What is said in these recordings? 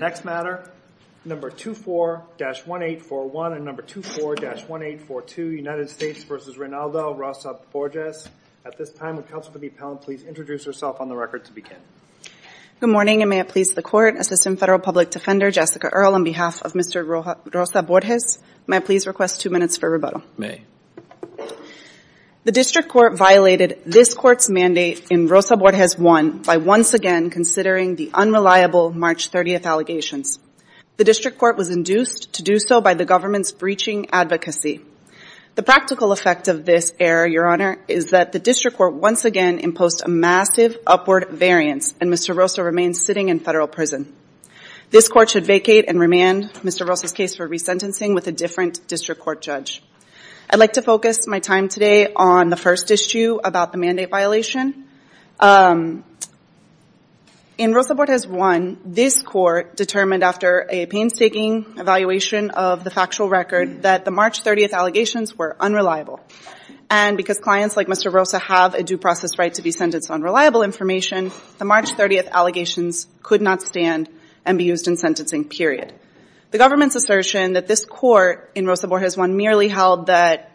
Next matter, number 24-1841 and number 24-1842, United States versus Reynaldo Rosa-Borges. At this time, would counsel for the appellant please introduce herself on the record to begin. Good morning and may it please the court, Assistant Federal Public Defender Jessica Earl on behalf of Mr. Rosa-Borges. May I please request two minutes for rebuttal? May. The district court violated this court's mandate in Rosa-Borges I by once again considering the unreliable March 30th allegations. The district court was induced to do so by the government's breaching advocacy. The practical effect of this error, Your Honor, is that the district court once again imposed a massive upward variance and Mr. Rosa remains sitting in federal prison. This court should vacate and remand Mr. Rosa's case for resentencing with a different district court judge. I'd like to focus my time today on the first issue about the mandate violation. In Rosa-Borges I, this court determined after a painstaking evaluation of the factual record that the March 30th allegations were unreliable and because clients like Mr. Rosa have a due process right to be sentenced on reliable information, the March 30th allegations could not stand and be used in sentencing period. The government's assertion that this court in Rosa-Borges I merely held that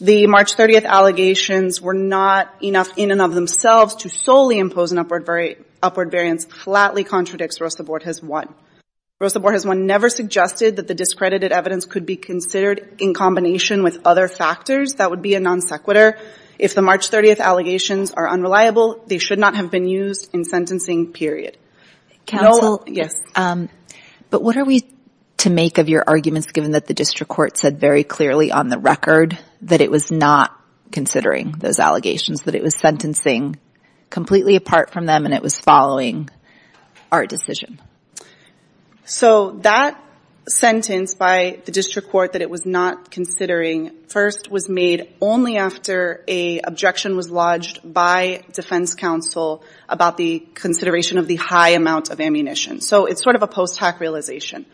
the March 30th allegations were not enough in and of themselves to solely impose an upward variance flatly contradicts Rosa-Borges I. Rosa-Borges I never suggested that the discredited evidence could be considered in combination with other factors that would be a non sequitur. If the March 30th allegations are unreliable, they should not have been used in sentencing period. Counsel, but what are we to make of your arguments given that the district court said very clearly on the record that it was not considering those allegations, that it was sentencing completely apart from them and it was following our decision? So that sentence by the district court that it was not considering first was made only after a objection was lodged by defense counsel about the consideration of the high amount of ammunition. So it's sort of a post-hack realization.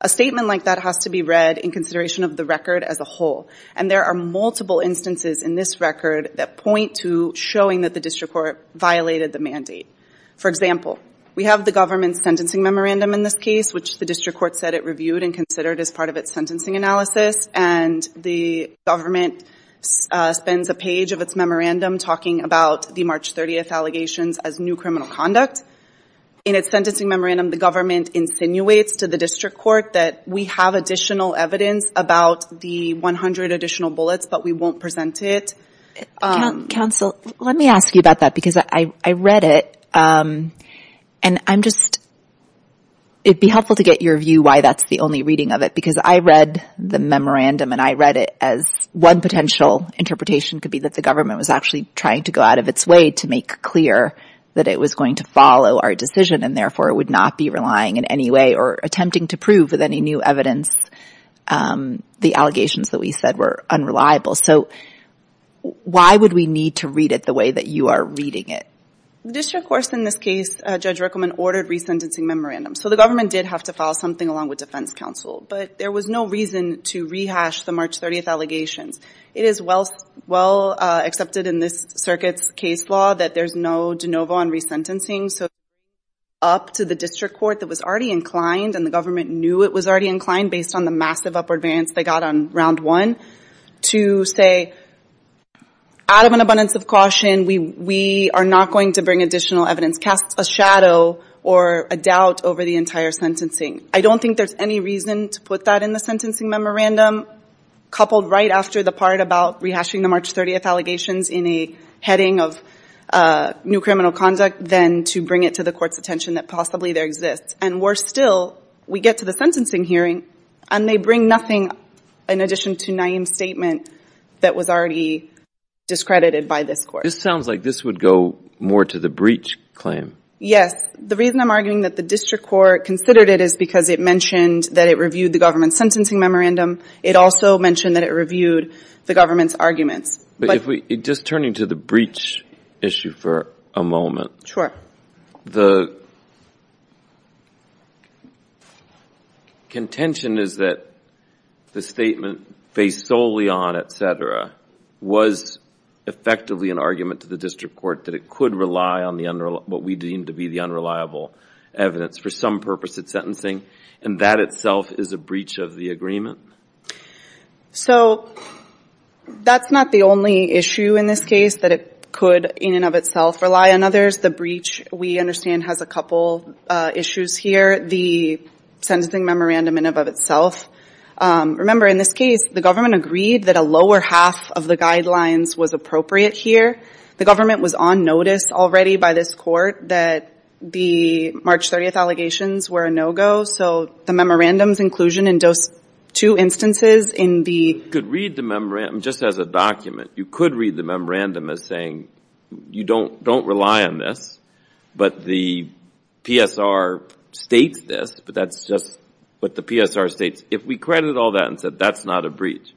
A statement like that has to be read in consideration of the record as a whole and there are multiple instances in this record that point to showing that the district court violated the mandate. For example, we have the government's sentencing memorandum in this case which the district court said it reviewed and considered as part of its sentencing analysis and the government spends a page of its memorandum talking about the March 30th allegations as new criminal conduct. In its sentencing memorandum the government insinuates to the district court that we have additional evidence about the 100 additional bullets but we won't present it. Counsel, let me ask you about that because I read it and I'm just, it'd be helpful to get your view why that's the only reading of it because I read the memorandum and I read it as one potential interpretation could be that the government was actually trying to go out of its way to make clear that it was going to follow our decision and therefore it would not be relying in any way or attempting to prove with any new evidence the allegations that we said were unreliable. So why would we need to read it the way that you are reading it? The district courts in this case, Judge Rickleman, ordered resentencing memorandum. So the government did have to file something along with defense counsel but there was no reason to rehash the March 30th allegations. It is well accepted in this circuit's case law that there's no de novo on resentencing so it's up to the district court that was already inclined and the government knew it was already inclined based on the massive upward variance they got on round one to say out of an abundance of caution we are not going to bring additional evidence, cast a shadow or a doubt over the entire sentencing. I don't think there's any reason to put that in the sentencing memorandum coupled right after the part about rehashing the March 30th allegations in a heading of new criminal conduct than to bring it to the court's attention that possibly there exists. And worse still, we get to the sentencing hearing and they bring nothing in addition to Naeem's statement that was already discredited by this court. This sounds like this would go more to the breach claim. Yes, the reason I'm arguing that the district court considered it is because it mentioned that it reviewed the government's sentencing memorandum. It also mentioned that it reviewed the government's arguments. But if we just turning to the breach issue for a moment. Sure. The contention is that the statement based solely on etc. was effectively an argument to the district court that it could rely on what we deem to be the unreliable evidence for some purpose at sentencing and that itself is a breach of the agreement? So that's not the only issue in this case that it could in and of itself rely on others. The breach we understand has a couple issues here. The sentencing memorandum in and of itself. Remember in this case the government agreed that a lower half of the guidelines was appropriate here. The government was on notice already by this court that the March 30th allegations were a no-go. So the memorandum's inclusion in those two instances in the... You could read the memorandum just as a saying, you don't rely on this, but the PSR states this, but that's just what the PSR states. If we credit all that and said that's not a breach.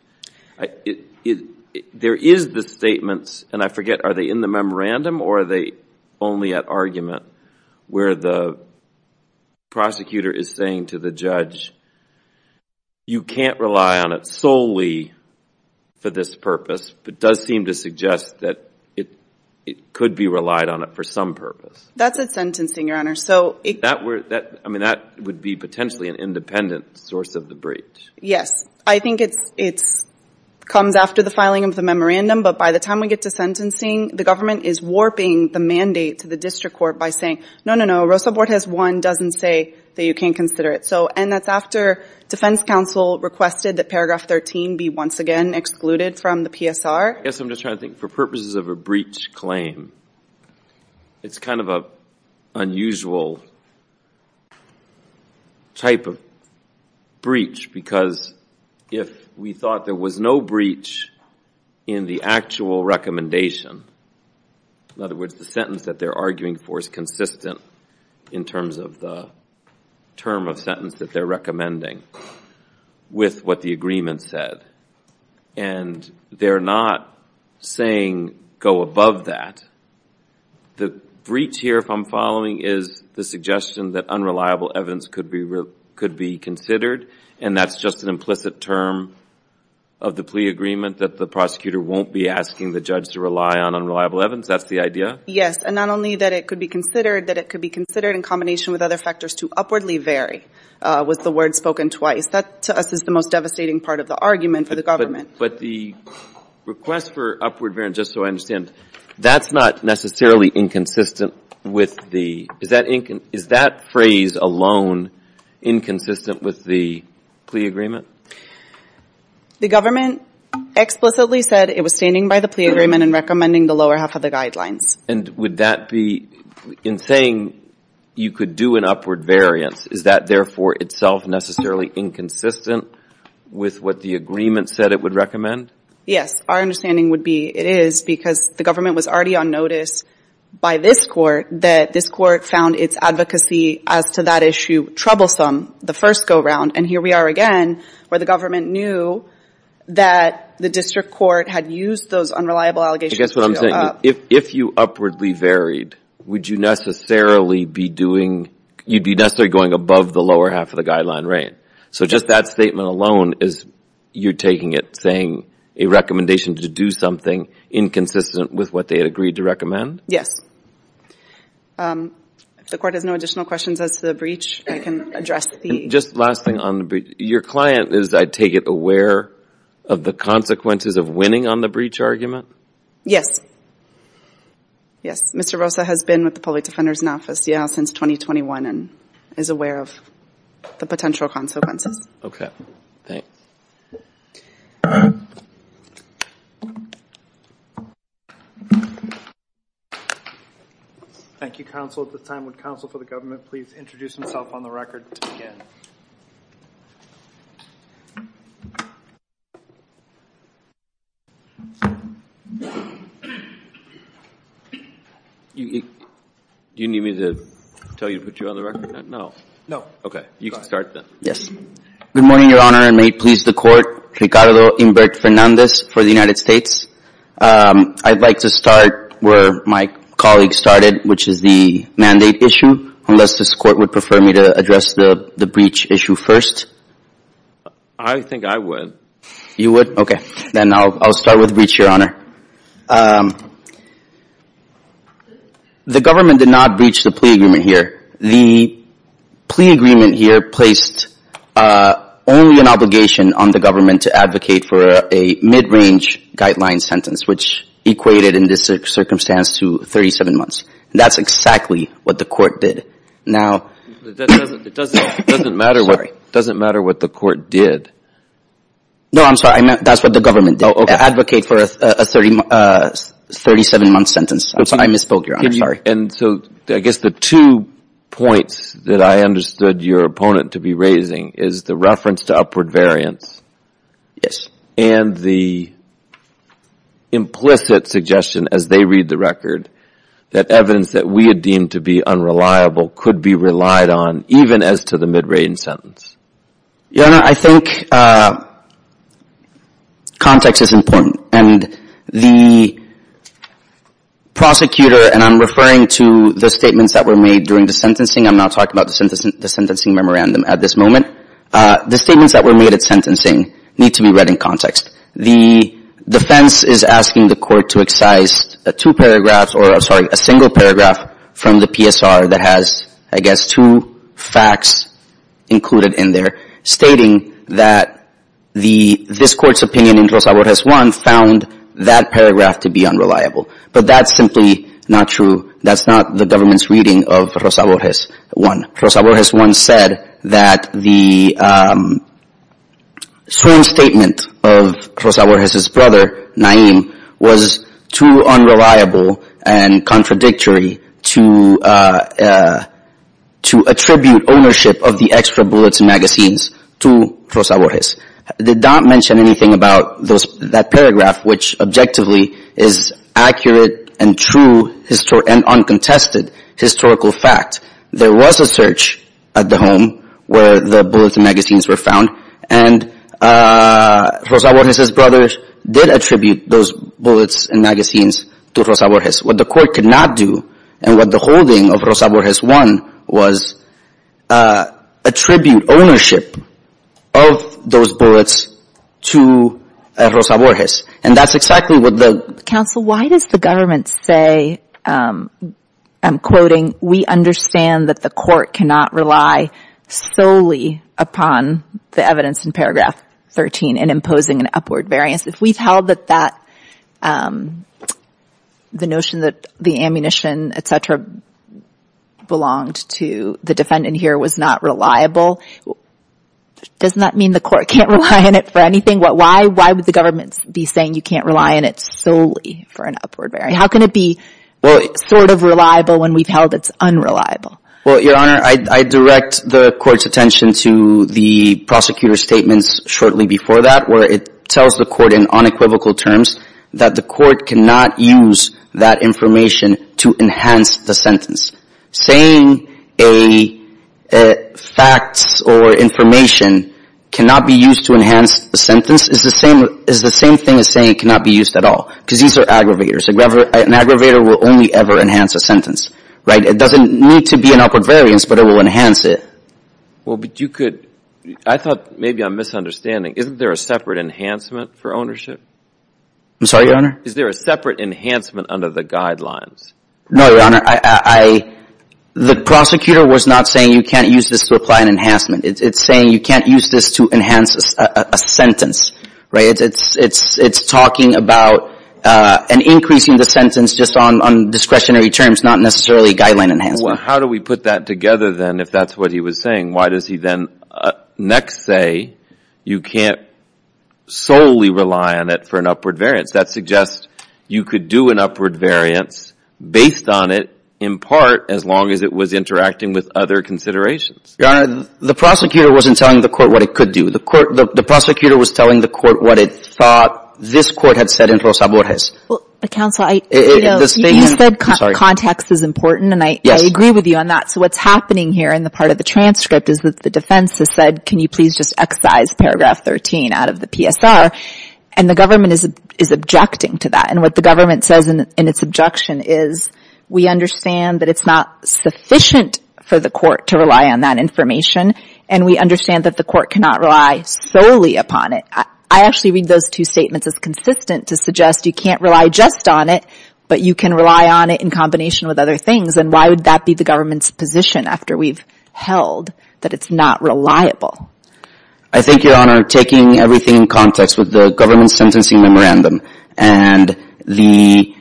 There is the statements, and I forget, are they in the memorandum or are they only at argument where the prosecutor is saying to the judge, you can't rely on it solely for this purpose, but does seem to suggest that it could be relied on it for some purpose. That's at sentencing, Your Honor, so... I mean that would be potentially an independent source of the breach. Yes, I think it comes after the filing of the memorandum, but by the time we get to sentencing, the government is warping the mandate to the district court by saying, no, no, no, Rosa Bortez 1 doesn't say that you can't consider it. So, and that's after defense counsel requested that paragraph 13 be once again excluded from the PSR? Yes, I'm just trying to think, for purposes of a breach claim, it's kind of a unusual type of breach, because if we thought there was no breach in the actual recommendation, in other words, the sentence that they're arguing for is consistent in terms of the term of sentence that they're recommending with what the agreement said, and they're not saying go above that. The breach here, if I'm following, is the suggestion that unreliable evidence could be considered, and that's just an implicit term of the plea agreement that the prosecutor won't be asking the judge to rely on unreliable evidence. That's the idea? Yes, and not only that it could be considered, that it could be considered in combination with other factors to upwardly vary with the word spoken twice. That, to us, is the most devastating part of the argument for the government. But the request for upward bearing, just so I understand, that's not necessarily inconsistent with the, is that phrase alone inconsistent with the plea agreement? The government explicitly said it was standing by the plea agreement and recommending the lower half of the guidelines. And would that be, in saying you could do an upward variance, is that therefore itself necessarily inconsistent with what the agreement said it would recommend? Yes, our understanding would be it is, because the government was already on notice by this court that this court found its advocacy as to that issue troublesome the first go-round, and here we are again where the government knew that the district court had used those unreliable allegations. I guess what I'm saying, if you upwardly varied, would you necessarily be doing, you'd be necessarily going above the lower half of the guideline range? So just that statement alone is you're taking it, saying a recommendation to do something inconsistent with what they had agreed to recommend? Yes. If the court has no additional questions as to the breach, I can address the... Just last thing on the breach, your client is, I take it, aware of the consequences of winning on the breach argument? Yes. Yes, Mr. Rosa has been with the Public Defender's Office, yeah, since 2021 and is aware of the potential consequences. Okay, thanks. Thank you, counsel. At this time, would counsel for the government please introduce himself on the record to begin? Do you need me to tell you to put you on the record? No. No. Okay, you can start then. Yes. Good morning, Your Honor, and may it please the court, Ricardo Humbert Fernandez for the United States. I'd like to start where my colleague started, which is the mandate issue, unless this court would prefer me to address the breach issue first? I think I would. You would? Okay, then I'll start with the breach, Your Honor. The government did not breach the plea agreement here. The plea agreement here placed only an obligation on the government to advocate for a mid-range guideline sentence, which equated in this circumstance to 37 months. That's exactly what the court did. Now... It doesn't matter what the court did. No, I'm sorry, that's what the government did. Advocate for a 37-month sentence. I misspoke, Your Honor, sorry. And so I guess the two points that I understood your opponent to be raising is the reference to upward variance and the implicit suggestion, as they read the record, that evidence that we had deemed to be unreliable could be relied on, even as to the mid-range sentence. Your Honor, I think context is important. And the prosecutor, and I'm referring to the statements that were made during the sentencing. I'm not talking about the sentencing memorandum at this moment. The statements that were made at sentencing need to be read in context. The defense is asking the court to excise a single paragraph from the PSR that has, I guess, two facts included in there, stating that this court's opinion in Rosa Borges I found that paragraph to be unreliable. But that's simply not true. That's not the government's reading of Rosa Borges I. Rosa Borges I said that the sworn statement of Rosa Borges' brother, Naim, was too unreliable and contradictory to attribute ownership of the extra bullets magazines to Rosa Borges. They don't mention anything about that paragraph, which objectively is accurate and true and uncontested historical fact. There was a search at the home where the bullets and magazines were found. And Rosa Borges' brother did attribute those bullets and magazines to Rosa Borges. What the court could not do, and what the holding of Rosa Borges I was, attribute ownership of those bullets to Rosa Borges. And that's exactly what the... So why does the government say, I'm quoting, we understand that the court cannot rely solely upon the evidence in paragraph 13 in imposing an upward variance. If we've held that the notion that the ammunition, et cetera, belonged to the defendant here was not reliable, doesn't that mean the court can't rely on it for anything? Why would the government be saying you can't rely on it solely for an upward variance? How can it be sort of reliable when we've held it's unreliable? Well, Your Honor, I direct the court's attention to the prosecutor's statements shortly before that where it tells the court in unequivocal terms that the court cannot use that information to enhance the sentence. Saying a fact or information cannot be used to enhance the sentence is the same thing as saying it cannot be used at all. Because these are aggravators. An aggravator will only ever enhance a sentence, right? It doesn't need to be an upward variance, but it will enhance it. Well, but you could... I thought maybe I'm misunderstanding. Isn't there a separate enhancement for ownership? I'm sorry, Your Honor? Is there a separate enhancement under the guidelines? No, Your Honor. The prosecutor was not saying you can't use this to apply an enhancement. It's saying you can't use this to enhance a sentence, right? It's talking about an increasing the sentence just on discretionary terms, not necessarily guideline enhancement. How do we put that together then, if that's what he was saying? Why does he then next say you can't solely rely on it for an upward variance? That suggests you could do an upward variance based on it, in part, as long as it was interacting with other considerations. Your Honor, the prosecutor wasn't telling the court what it could do. The prosecutor was telling the court what it thought this court had said in Rosa Borges. Counsel, you said context is important, and I agree with you on that. So what's happening here in the part of the transcript is that the defense has said, can you please just excise paragraph 13 out of the PSR? And the government is objecting to that. And what the government says in its objection is, we understand that it's not sufficient for the court to rely on that information, and we understand that the court cannot rely solely upon it. I actually read those two statements as consistent to suggest you can't rely just on it, but you can rely on it in combination with other things. And why would that be the government's position after we've held that it's not reliable? I think, Your Honor, taking everything in context with the government's sentencing memorandum and the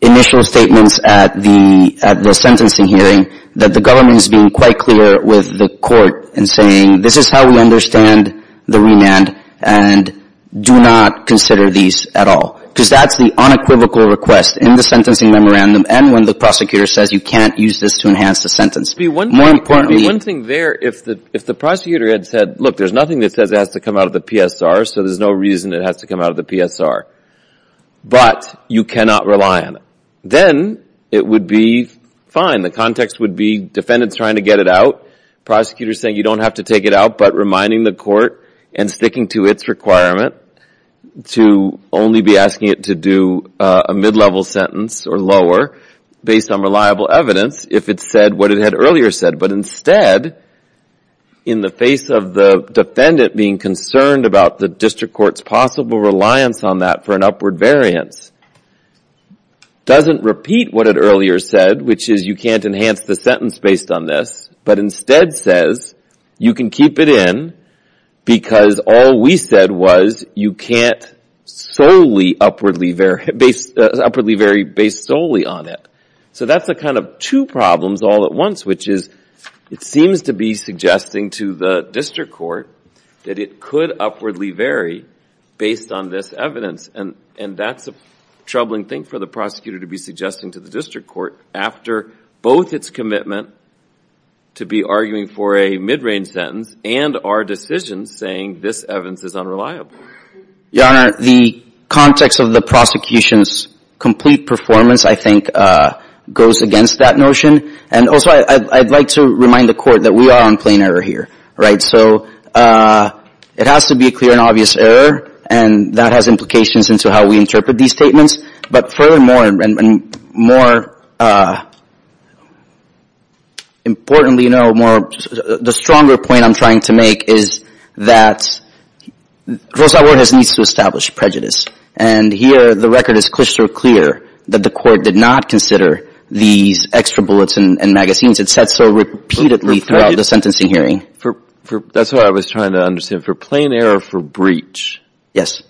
initial statements at the sentencing hearing, that the government is being quite clear with the court in saying, this is how we understand the remand, and do not consider these at all. Because that's the unequivocal request in the sentencing memorandum and when the prosecutor says you can't use this to enhance the sentence. More importantly One thing there, if the prosecutor had said, look, there's nothing that says it has to come out of the PSR, so there's no reason it has to come out of the PSR, but you cannot rely on it, then it would be fine. The context would be defendants trying to get it out, prosecutors saying you don't have to take it out, but reminding the court and sticking to its requirement to only be asking it to do a mid-level sentence or lower based on reliable evidence if it said what it had earlier said. But instead, in the face of the defendant being concerned about the district court's possible reliance on that for an upward variance, doesn't repeat what it earlier said, which is you can't enhance the sentence based on this, but instead says you can keep it in because all we said was you can't solely upwardly vary based solely on it. So that's the kind of two problems all at once, which is it seems to be suggesting to the district court that it could upwardly vary based on this evidence, and that's a troubling thing for the prosecutor to be suggesting to the district court after both its commitment to be arguing for a mid-range sentence and our decision saying this evidence is unreliable. Your Honor, the context of the prosecution's complete performance, I think, goes against that notion, and also I'd like to remind the court that we are on plain error here, right? So it has to be a clear and obvious error, and that has implications into how we interpret these statements, but furthermore and more importantly, you know, the stronger point I'm trying to make is that Rosa Ortega needs to establish prejudice, and here the record is crystal clear that the court did not consider these extra bullets and magazines. It said so repeatedly throughout the sentencing hearing. That's what I was trying to understand. For plain error for breach, what's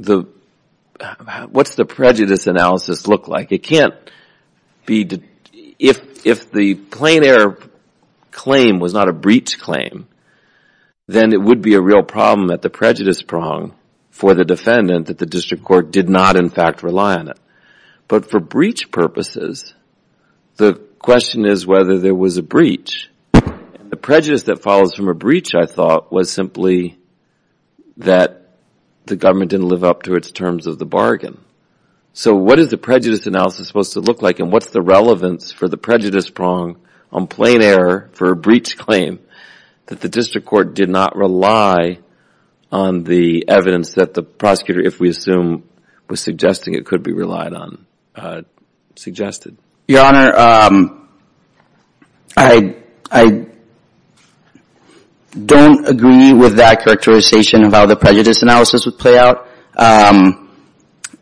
the prejudice analysis look like? If the plain error claim was not a breach claim, then it would be a real problem at the prejudice prong for the defendant that the district court did not, in fact, rely on it, but for breach purposes, the question is whether there was a breach. The prejudice that follows from a breach, I thought, was simply that the government didn't live up to its terms of the bargain. So what is the prejudice analysis supposed to look like, and what's the relevance for the prejudice prong on plain error for a breach claim that the district court did not rely on the evidence that the prosecutor, if we assume, was suggesting it could be relied on, suggested? Your Honor, I don't agree with that characterization of how the prejudice analysis would play out.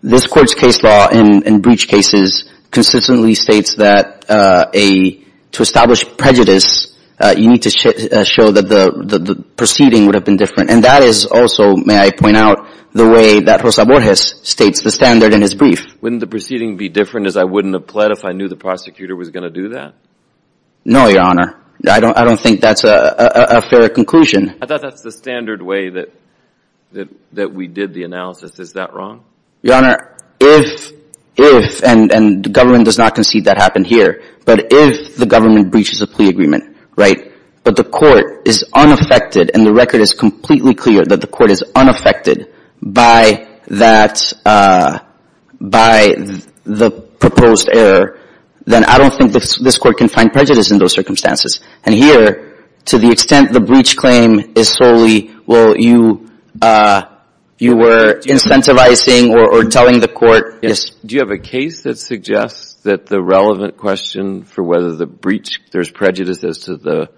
This Court's case law in breach cases consistently states that to establish prejudice, you need to show that the proceeding would have been different, and that is also, may I point out, the way that Rosa Borges states the standard in his brief. Wouldn't the proceeding be different, as I wouldn't have pled if I knew the prosecutor was going to do that? No, Your Honor. I don't think that's a fair conclusion. I thought that's the standard way that we did the analysis. Is that wrong? Your Honor, if, and the government does not concede that happened here, but if the government breaches a plea agreement, right, but the court is unaffected and the record is completely clear that the court is unaffected by that, by the proposed error, then I don't think this court can find prejudice in those circumstances. And here, to the extent the breach claim is solely, well, you were incentivizing or telling the court, yes. Do you have a case that suggests that the relevant question for whether the breach, there's prejudice as to the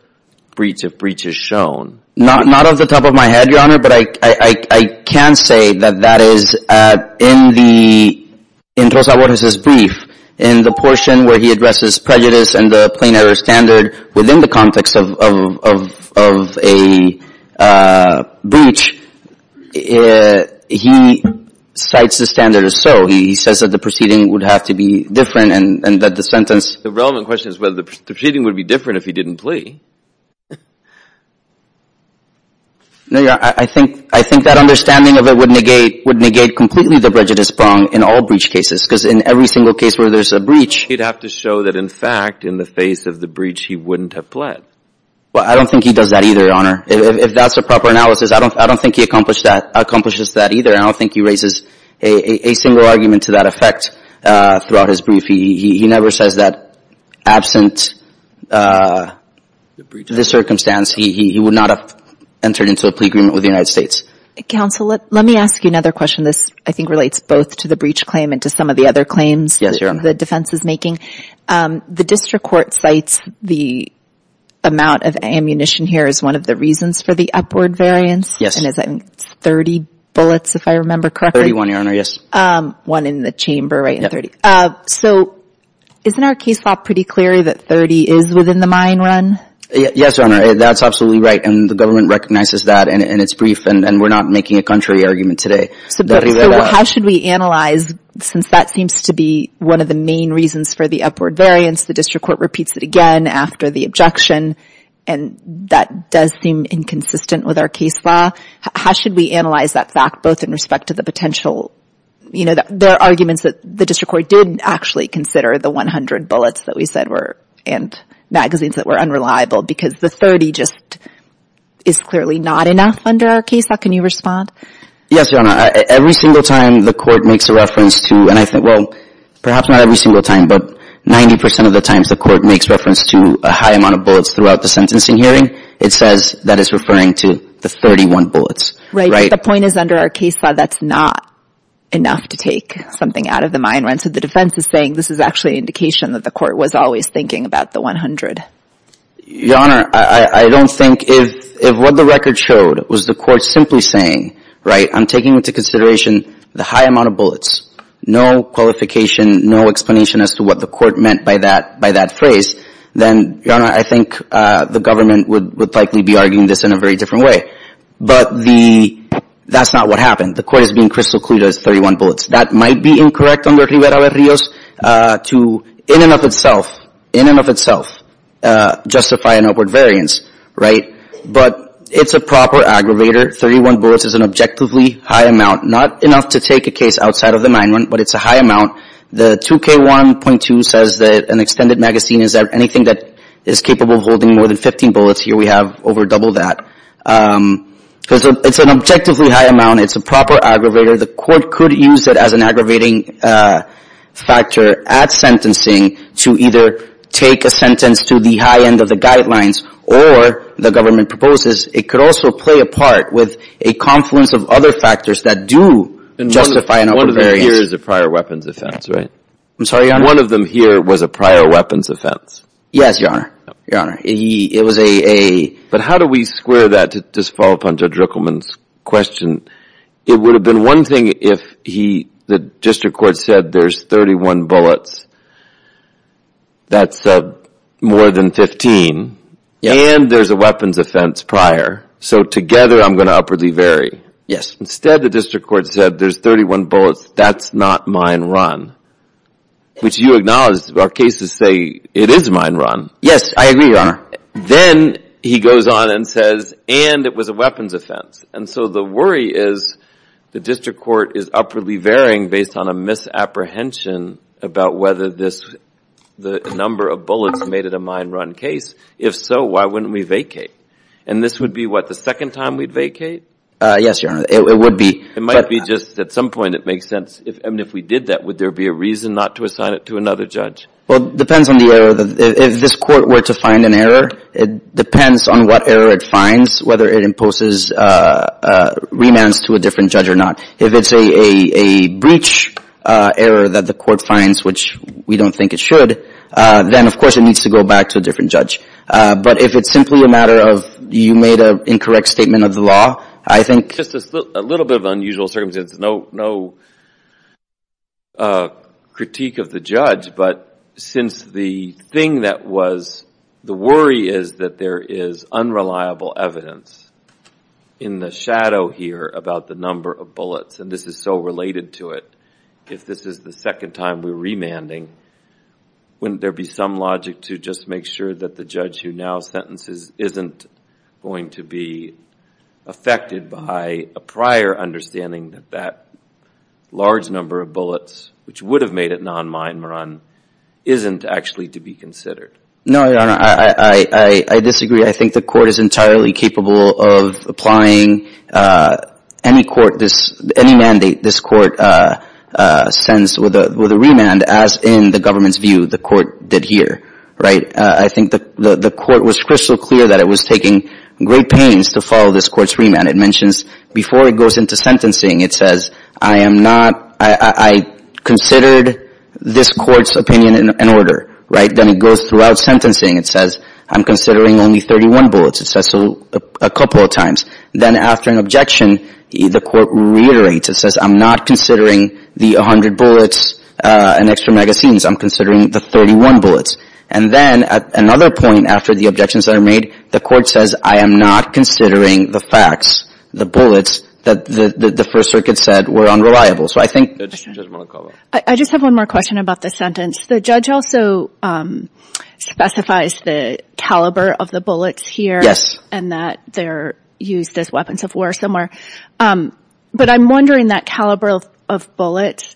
breach, if breach is shown? Not off the top of my head, Your Honor, but I can say that that is, in the, in Rosa Borges' brief, in the portion where he addresses prejudice and the plain error standard within the context of a breach, he cites the standard as so. He says that the proceeding was different and that the sentence. The relevant question is whether the proceeding would be different if he didn't plea. No, Your Honor, I think, I think that understanding of it would negate, would negate completely the prejudice prong in all breach cases, because in every single case where there's a breach. He'd have to show that, in fact, in the face of the breach, he wouldn't have pled. Well, I don't think he does that either, Your Honor. If that's a proper analysis, I don't, I don't think he accomplished that, accomplishes that either, and I don't think he raises a, a, a single argument to that effect throughout his brief. He, he, he never says that absent the breach, the circumstance, he, he, he would not have entered into a plea agreement with the United States. Counsel, let, let me ask you another question. This, I think, relates both to the breach claim and to some of the other claims. Yes, Your Honor. The defense is making. The district court cites the amount of ammunition here as one of the reasons for the upward variance. Yes. And it's, I think, 30 bullets, if I remember correctly. 31, Your Honor, yes. One in the chamber, right, and 30. Yeah. So, isn't our case law pretty clear that 30 is within the mine run? Yes, Your Honor, that's absolutely right, and the government recognizes that, and, and it's brief, and, and we're not making a contrary argument today. So, but, so how should we analyze, since that seems to be one of the main reasons for the upward variance, the district court repeats it again after the objection, and that does seem inconsistent with our case law, how should we analyze that fact, both in respect to the potential, you know, there are arguments that the district court didn't actually consider the 100 bullets that we said were, and magazines that were unreliable, because the 30 just is clearly not enough under our case law. Can you respond? Yes, Your Honor. Every single time the court makes a reference to, and I think, well, perhaps not every single time, but 90 percent of the times the court makes reference to a high amount of bullets throughout the sentencing hearing, it says that it's referring to the 31 bullets. Right. And I think the point is under our case law, that's not enough to take something out of the mine run. So the defense is saying this is actually an indication that the court was always thinking about the 100. Your Honor, I, I don't think if, if what the record showed was the court simply saying, right, I'm taking into consideration the high amount of bullets, no qualification, no explanation as to what the court meant by that, by that phrase, then, Your Honor, I think the government would, would likely be arguing this in a very different way. Right. But the, that's not what happened. The court is being crystal clear that it's 31 bullets. That might be incorrect under Rivera-Rios to, in and of itself, in and of itself, justify an upward variance. Right. But it's a proper aggravator. 31 bullets is an objectively high amount. Not enough to take a case outside of the mine run, but it's a high amount. The 2K1.2 says that an extended magazine is anything that is capable of holding more than 15 bullets. Here we have over double that. Because it's an objectively high amount. It's a proper aggravator. The court could use it as an aggravating factor at sentencing to either take a sentence to the high end of the guidelines or, the government proposes, it could also play a part with a confluence of other factors that do justify an upward variance. And one of them here is a prior weapons offense, right? I'm sorry, Your Honor. One of them here was a prior weapons offense. Yes, Your Honor. Your Honor. But how do we square that to just follow up on Judge Rickleman's question? It would have been one thing if the district court said there's 31 bullets. That's more than 15. Yes. And there's a weapons offense prior. So together, I'm going to upwardly vary. Yes. Instead, the district court said there's 31 bullets. That's not mine run, which you acknowledge. Our cases say it is mine run. Yes, I agree, Your Honor. Then he goes on and says, and it was a weapons offense. And so the worry is the district court is upwardly varying based on a misapprehension about whether the number of bullets made it a mine run case. If so, why wouldn't we vacate? And this would be, what, the second time we'd vacate? Yes, Your Honor. It would be. It might be just at some point it makes sense. And if we did that, would there be a reason not to assign it to another judge? Well, it depends on the error. If this court were to find an error, it depends on what error it finds, whether it imposes remands to a different judge or not. If it's a breach error that the court finds, which we don't think it should, then of course it needs to go back to a different judge. But if it's simply a matter of you made an incorrect statement of the law, I think – Just a little bit of unusual circumstances. No critique of the judge, but since the thing that was – the worry is that there is unreliable evidence in the shadow here about the number of bullets, and this is so related to it. If this is the second time we're remanding, wouldn't there be some logic to just make sure that the judge who now sentences isn't going to be affected by a prior understanding that that large number of bullets, which would have made it non mine run, isn't actually to be considered? No, Your Honor. I disagree. I think the court is entirely capable of applying any court – any mandate this court sends with a remand as in the government's view the court did here. I think the court was crystal clear that it was taking great pains to follow this court's remand. It mentions before it goes into sentencing, it says, I am not – I considered this court's opinion in order. Then it goes throughout sentencing. It says, I'm considering only 31 bullets. It says so a couple of times. Then after an objection, the court reiterates. It says, I'm not considering the 100 bullets and extra magazines. I'm considering the 31 bullets. And then at another point after the objections are made, the court says, I am not considering the facts, the bullets that the First Circuit said were unreliable. So I think – I just have one more question about the sentence. The judge also specifies the caliber of the bullets here. Yes. And that they're used as weapons of war somewhere. But I'm wondering that caliber of bullets,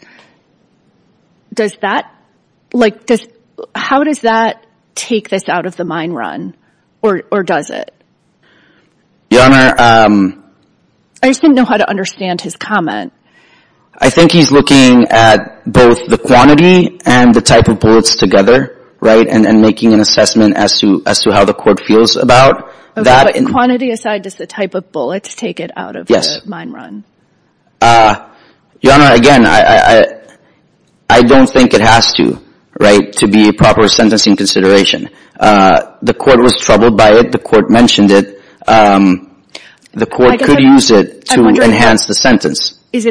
does that – like does – how does that take this out of the mine run or does it? Your Honor – I just didn't know how to understand his comment. I think he's looking at both the quantity and the type of bullets together, right, and making an assessment as to how the court feels about that. But quantity aside, does the type of bullets take it out of the mine run? Your Honor, again, I don't think it has to, right, to be a proper sentencing consideration. The court was troubled by it. The court mentioned it. The court could use it to enhance the sentence. Is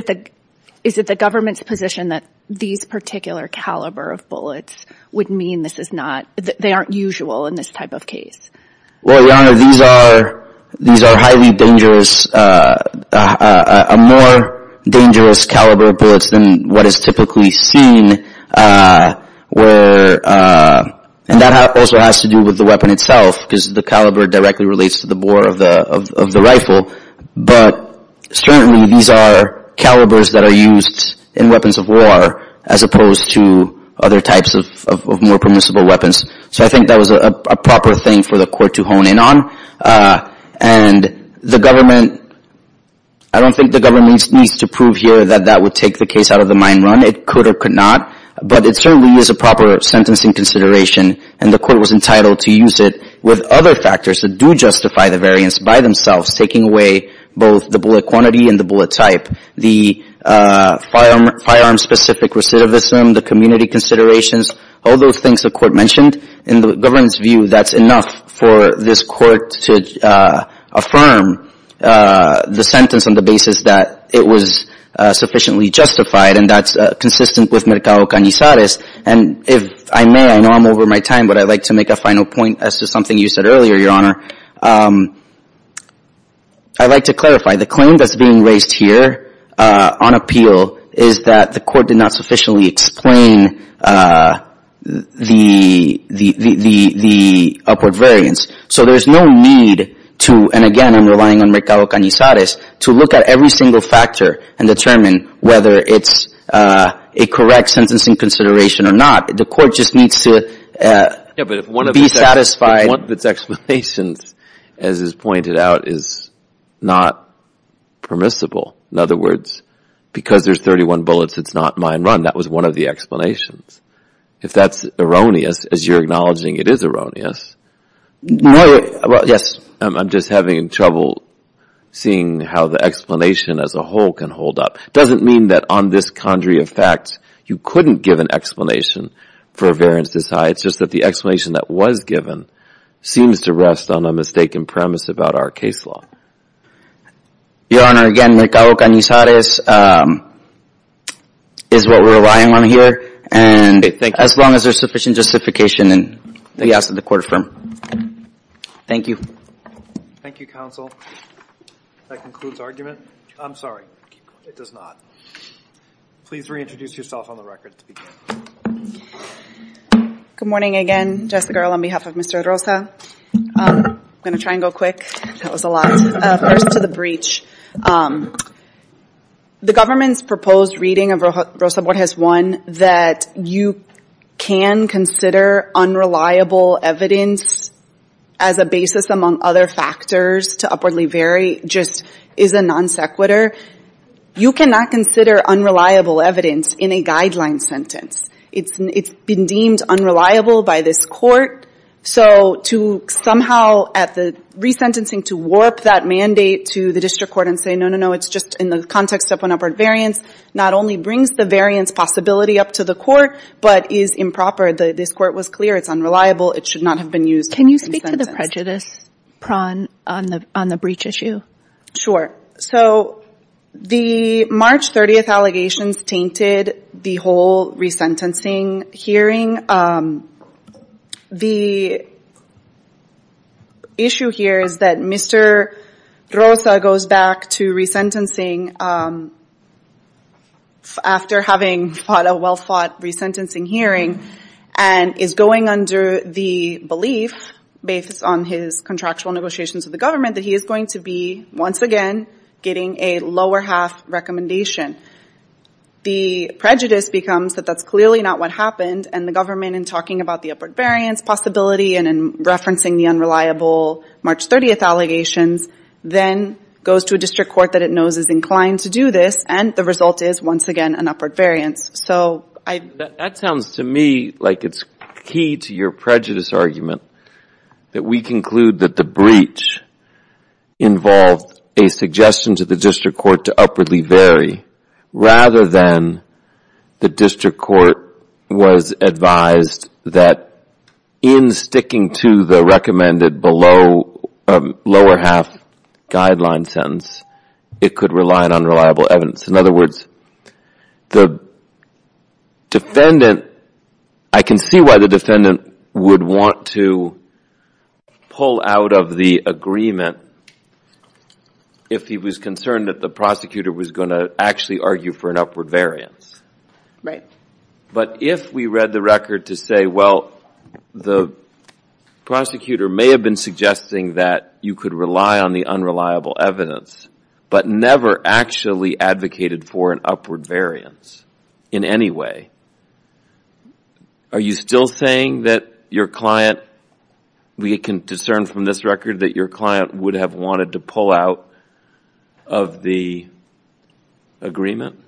it the government's position that these particular caliber of bullets would mean this is not – they aren't usual in this type of case? Well, Your Honor, these are highly dangerous – more dangerous caliber of bullets than what is typically seen where – and that also has to do with the weapon itself because the caliber directly relates to the bore of the rifle. But certainly these are calibers that are used in weapons of war as opposed to other types of more permissible weapons. So I think that was a proper thing for the court to hone in on. And the government – I don't think the government needs to prove here that that would take the case out of the mine run. It could or could not. But it certainly is a proper sentencing consideration, and the court was entitled to use it with other factors that do justify the variance by themselves, taking away both the bullet quantity and the bullet type, the firearm-specific recidivism, the community considerations, all those things the court mentioned. In the government's view, that's enough for this court to affirm the sentence on the basis that it was sufficiently justified, and that's consistent with Mercado Canizares. And if I may – I know I'm over my time, but I'd like to make a final point as to something you said earlier, Your Honor. I'd like to clarify. The claim that's being raised here on appeal is that the court did not sufficiently explain the upward variance. So there's no need to – and again, I'm relying on Mercado Canizares – to look at every single factor and determine whether it's a correct sentencing consideration or not. The court just needs to be satisfied. Yeah, but if one of its explanations, as is pointed out, is not permissible, in other words, because there's 31 bullets, it's not mine run. That was one of the explanations. If that's erroneous, as you're acknowledging it is erroneous – No – yes. I'm just having trouble seeing how the explanation as a whole can hold up. It doesn't mean that on this quandary of facts, you couldn't give an explanation for a variance this high. It's just that the explanation that was given seems to rest on a mistaken premise about our case law. Your Honor, again, Mercado Canizares is what we're relying on here. And as long as there's sufficient justification, then yes, the court affirmed. Thank you. Thank you, counsel. That concludes argument. I'm sorry. It does not. Please reintroduce yourself on the record. Good morning again, Jessica, on behalf of Mr. Rosa. I'm going to try and go quick. That was a lot. First to the breach. The government's proposed reading of Rosa Borges I that you can consider unreliable evidence as a basis among other factors to upwardly vary just is a non sequitur. You cannot consider unreliable evidence in a guideline sentence. It's been deemed unreliable by this court. So to somehow at the resentencing to warp that mandate to the district court and say, no, no, no, it's just in the context of an upward variance not only brings the variance possibility up to the court, but is improper. This court was clear it's unreliable. It should not have been used. Can you speak to the prejudice prong on the breach issue? Sure. So the March 30th allegations tainted the whole resentencing hearing. The issue here is that Mr. Rosa goes back to resentencing after having fought a well-fought resentencing hearing and is going under the belief, based on his contractual negotiations with the government, that he is going to be, once again, getting a lower half recommendation. The prejudice becomes that that's clearly not what happened and the government, in talking about the upward variance possibility and in referencing the unreliable March 30th allegations, then goes to a district court that it knows is inclined to do this and the result is, once again, an upward variance. That sounds to me like it's key to your prejudice argument that we conclude that the breach involved a suggestion to the district court to upwardly vary rather than the district court was advised that in sticking to the recommended lower half guideline sentence, it could rely on unreliable evidence. In other words, I can see why the defendant would want to pull out of the agreement if he was concerned that the prosecutor was going to actually argue for an upward variance. But if we read the record to say, well, the prosecutor may have been suggesting that you could rely on the unreliable evidence but never actually advocated for an upward variance in any way, are you still saying that your client, we can discern from this record, that your client would have wanted to pull out of the agreement?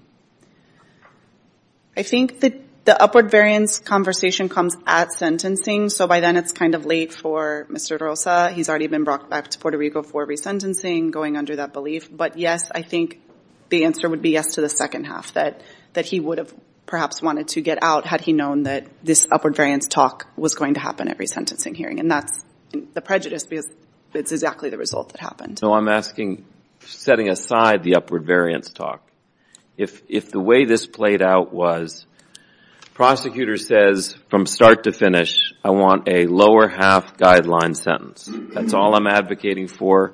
I think that the upward variance conversation comes at sentencing, so by then it's kind of late for Mr. Rosa. He's already been brought back to Puerto Rico for resentencing, going under that belief. But yes, I think the answer would be yes to the second half that he would have perhaps wanted to get out had he known that this upward variance talk was going to happen at resentencing hearing. And that's the prejudice because it's exactly the result that happened. So I'm asking, setting aside the upward variance talk, if the way this played out was the prosecutor says from start to finish, I want a lower half guideline sentence. That's all I'm advocating for.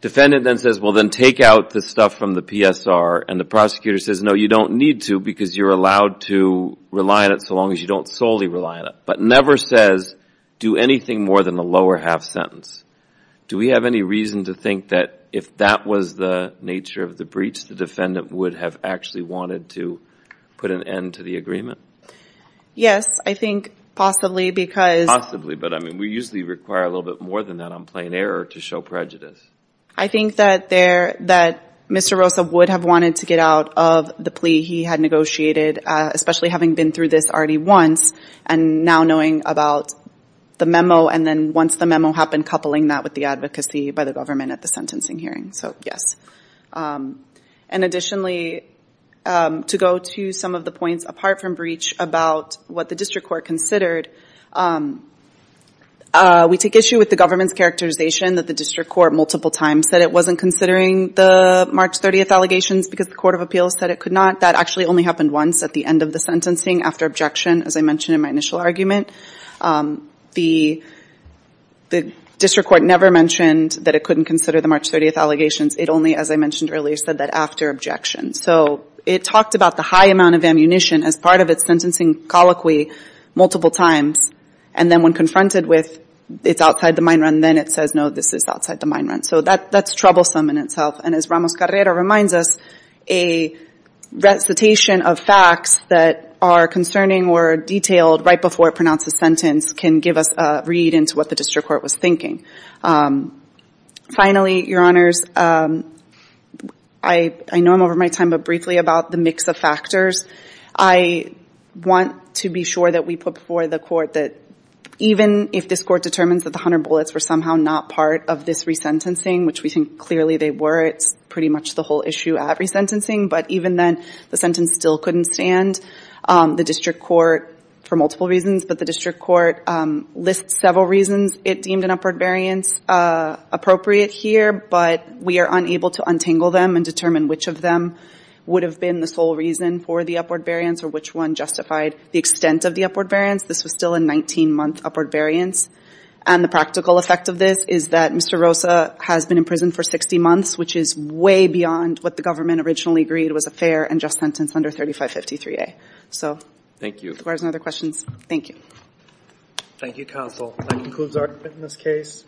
Defendant then says, well, then take out the stuff from the PSR. And the prosecutor says, no, you don't need to because you're allowed to rely on it so long as you don't solely rely on it. But never says do anything more than the lower half sentence. Do we have any reason to think that if that was the nature of the breach, the defendant would have actually wanted to put an end to the agreement? Yes, I think possibly because... Possibly, but we usually require a little bit more than that on plain error to show prejudice. I think that Mr. Rosa would have wanted to get out of the plea he had negotiated, especially having been through this already once, and now knowing about the memo, and then once the memo happened, coupling that with the advocacy by the government at the sentencing hearing. So, yes. And additionally, to go to some of the points apart from breach about what the district court considered, we take issue with the government's characterization that the district court multiple times said it wasn't considering the March 30th allegations because the Court of Appeals said it could not. That actually only happened once at the end of the sentencing after objection, as I mentioned in my initial argument. The district court never mentioned that it couldn't consider the March 30th allegations. It only, as I mentioned earlier, said that after objection. So, it talked about the high amount of ammunition as part of its sentencing colloquy multiple times, and then when confronted with it's outside the mine run, then it says, no, this is outside the mine run. So that's troublesome in itself. And as Ramos-Guerrero reminds us, a recitation of facts that are concerning or detailed right before it pronounced the sentence can give us a read into what the district court was thinking. Finally, Your Honors, I know I'm over my time, but briefly about the mix of factors. I want to be sure that we put before the court that even if this court determines that the 100 bullets were somehow not part of this resentencing, which we think clearly they were, it's pretty much the whole issue at resentencing. But even then, the sentence still couldn't stand. The district court, for multiple reasons, but the district court lists several reasons it deemed an upward variance appropriate here, but we are unable to untangle them and determine which of them would have been the sole reason for the upward variance or which one justified the extent of the upward variance. This was still a 19-month upward variance. And the practical effect of this is that Mr. Rosa has been in prison for 60 months, which is way beyond what the government originally agreed was a fair and just sentence under 3553A. So, if there are no other questions, thank you. Thank you, Counsel. That concludes our witness case.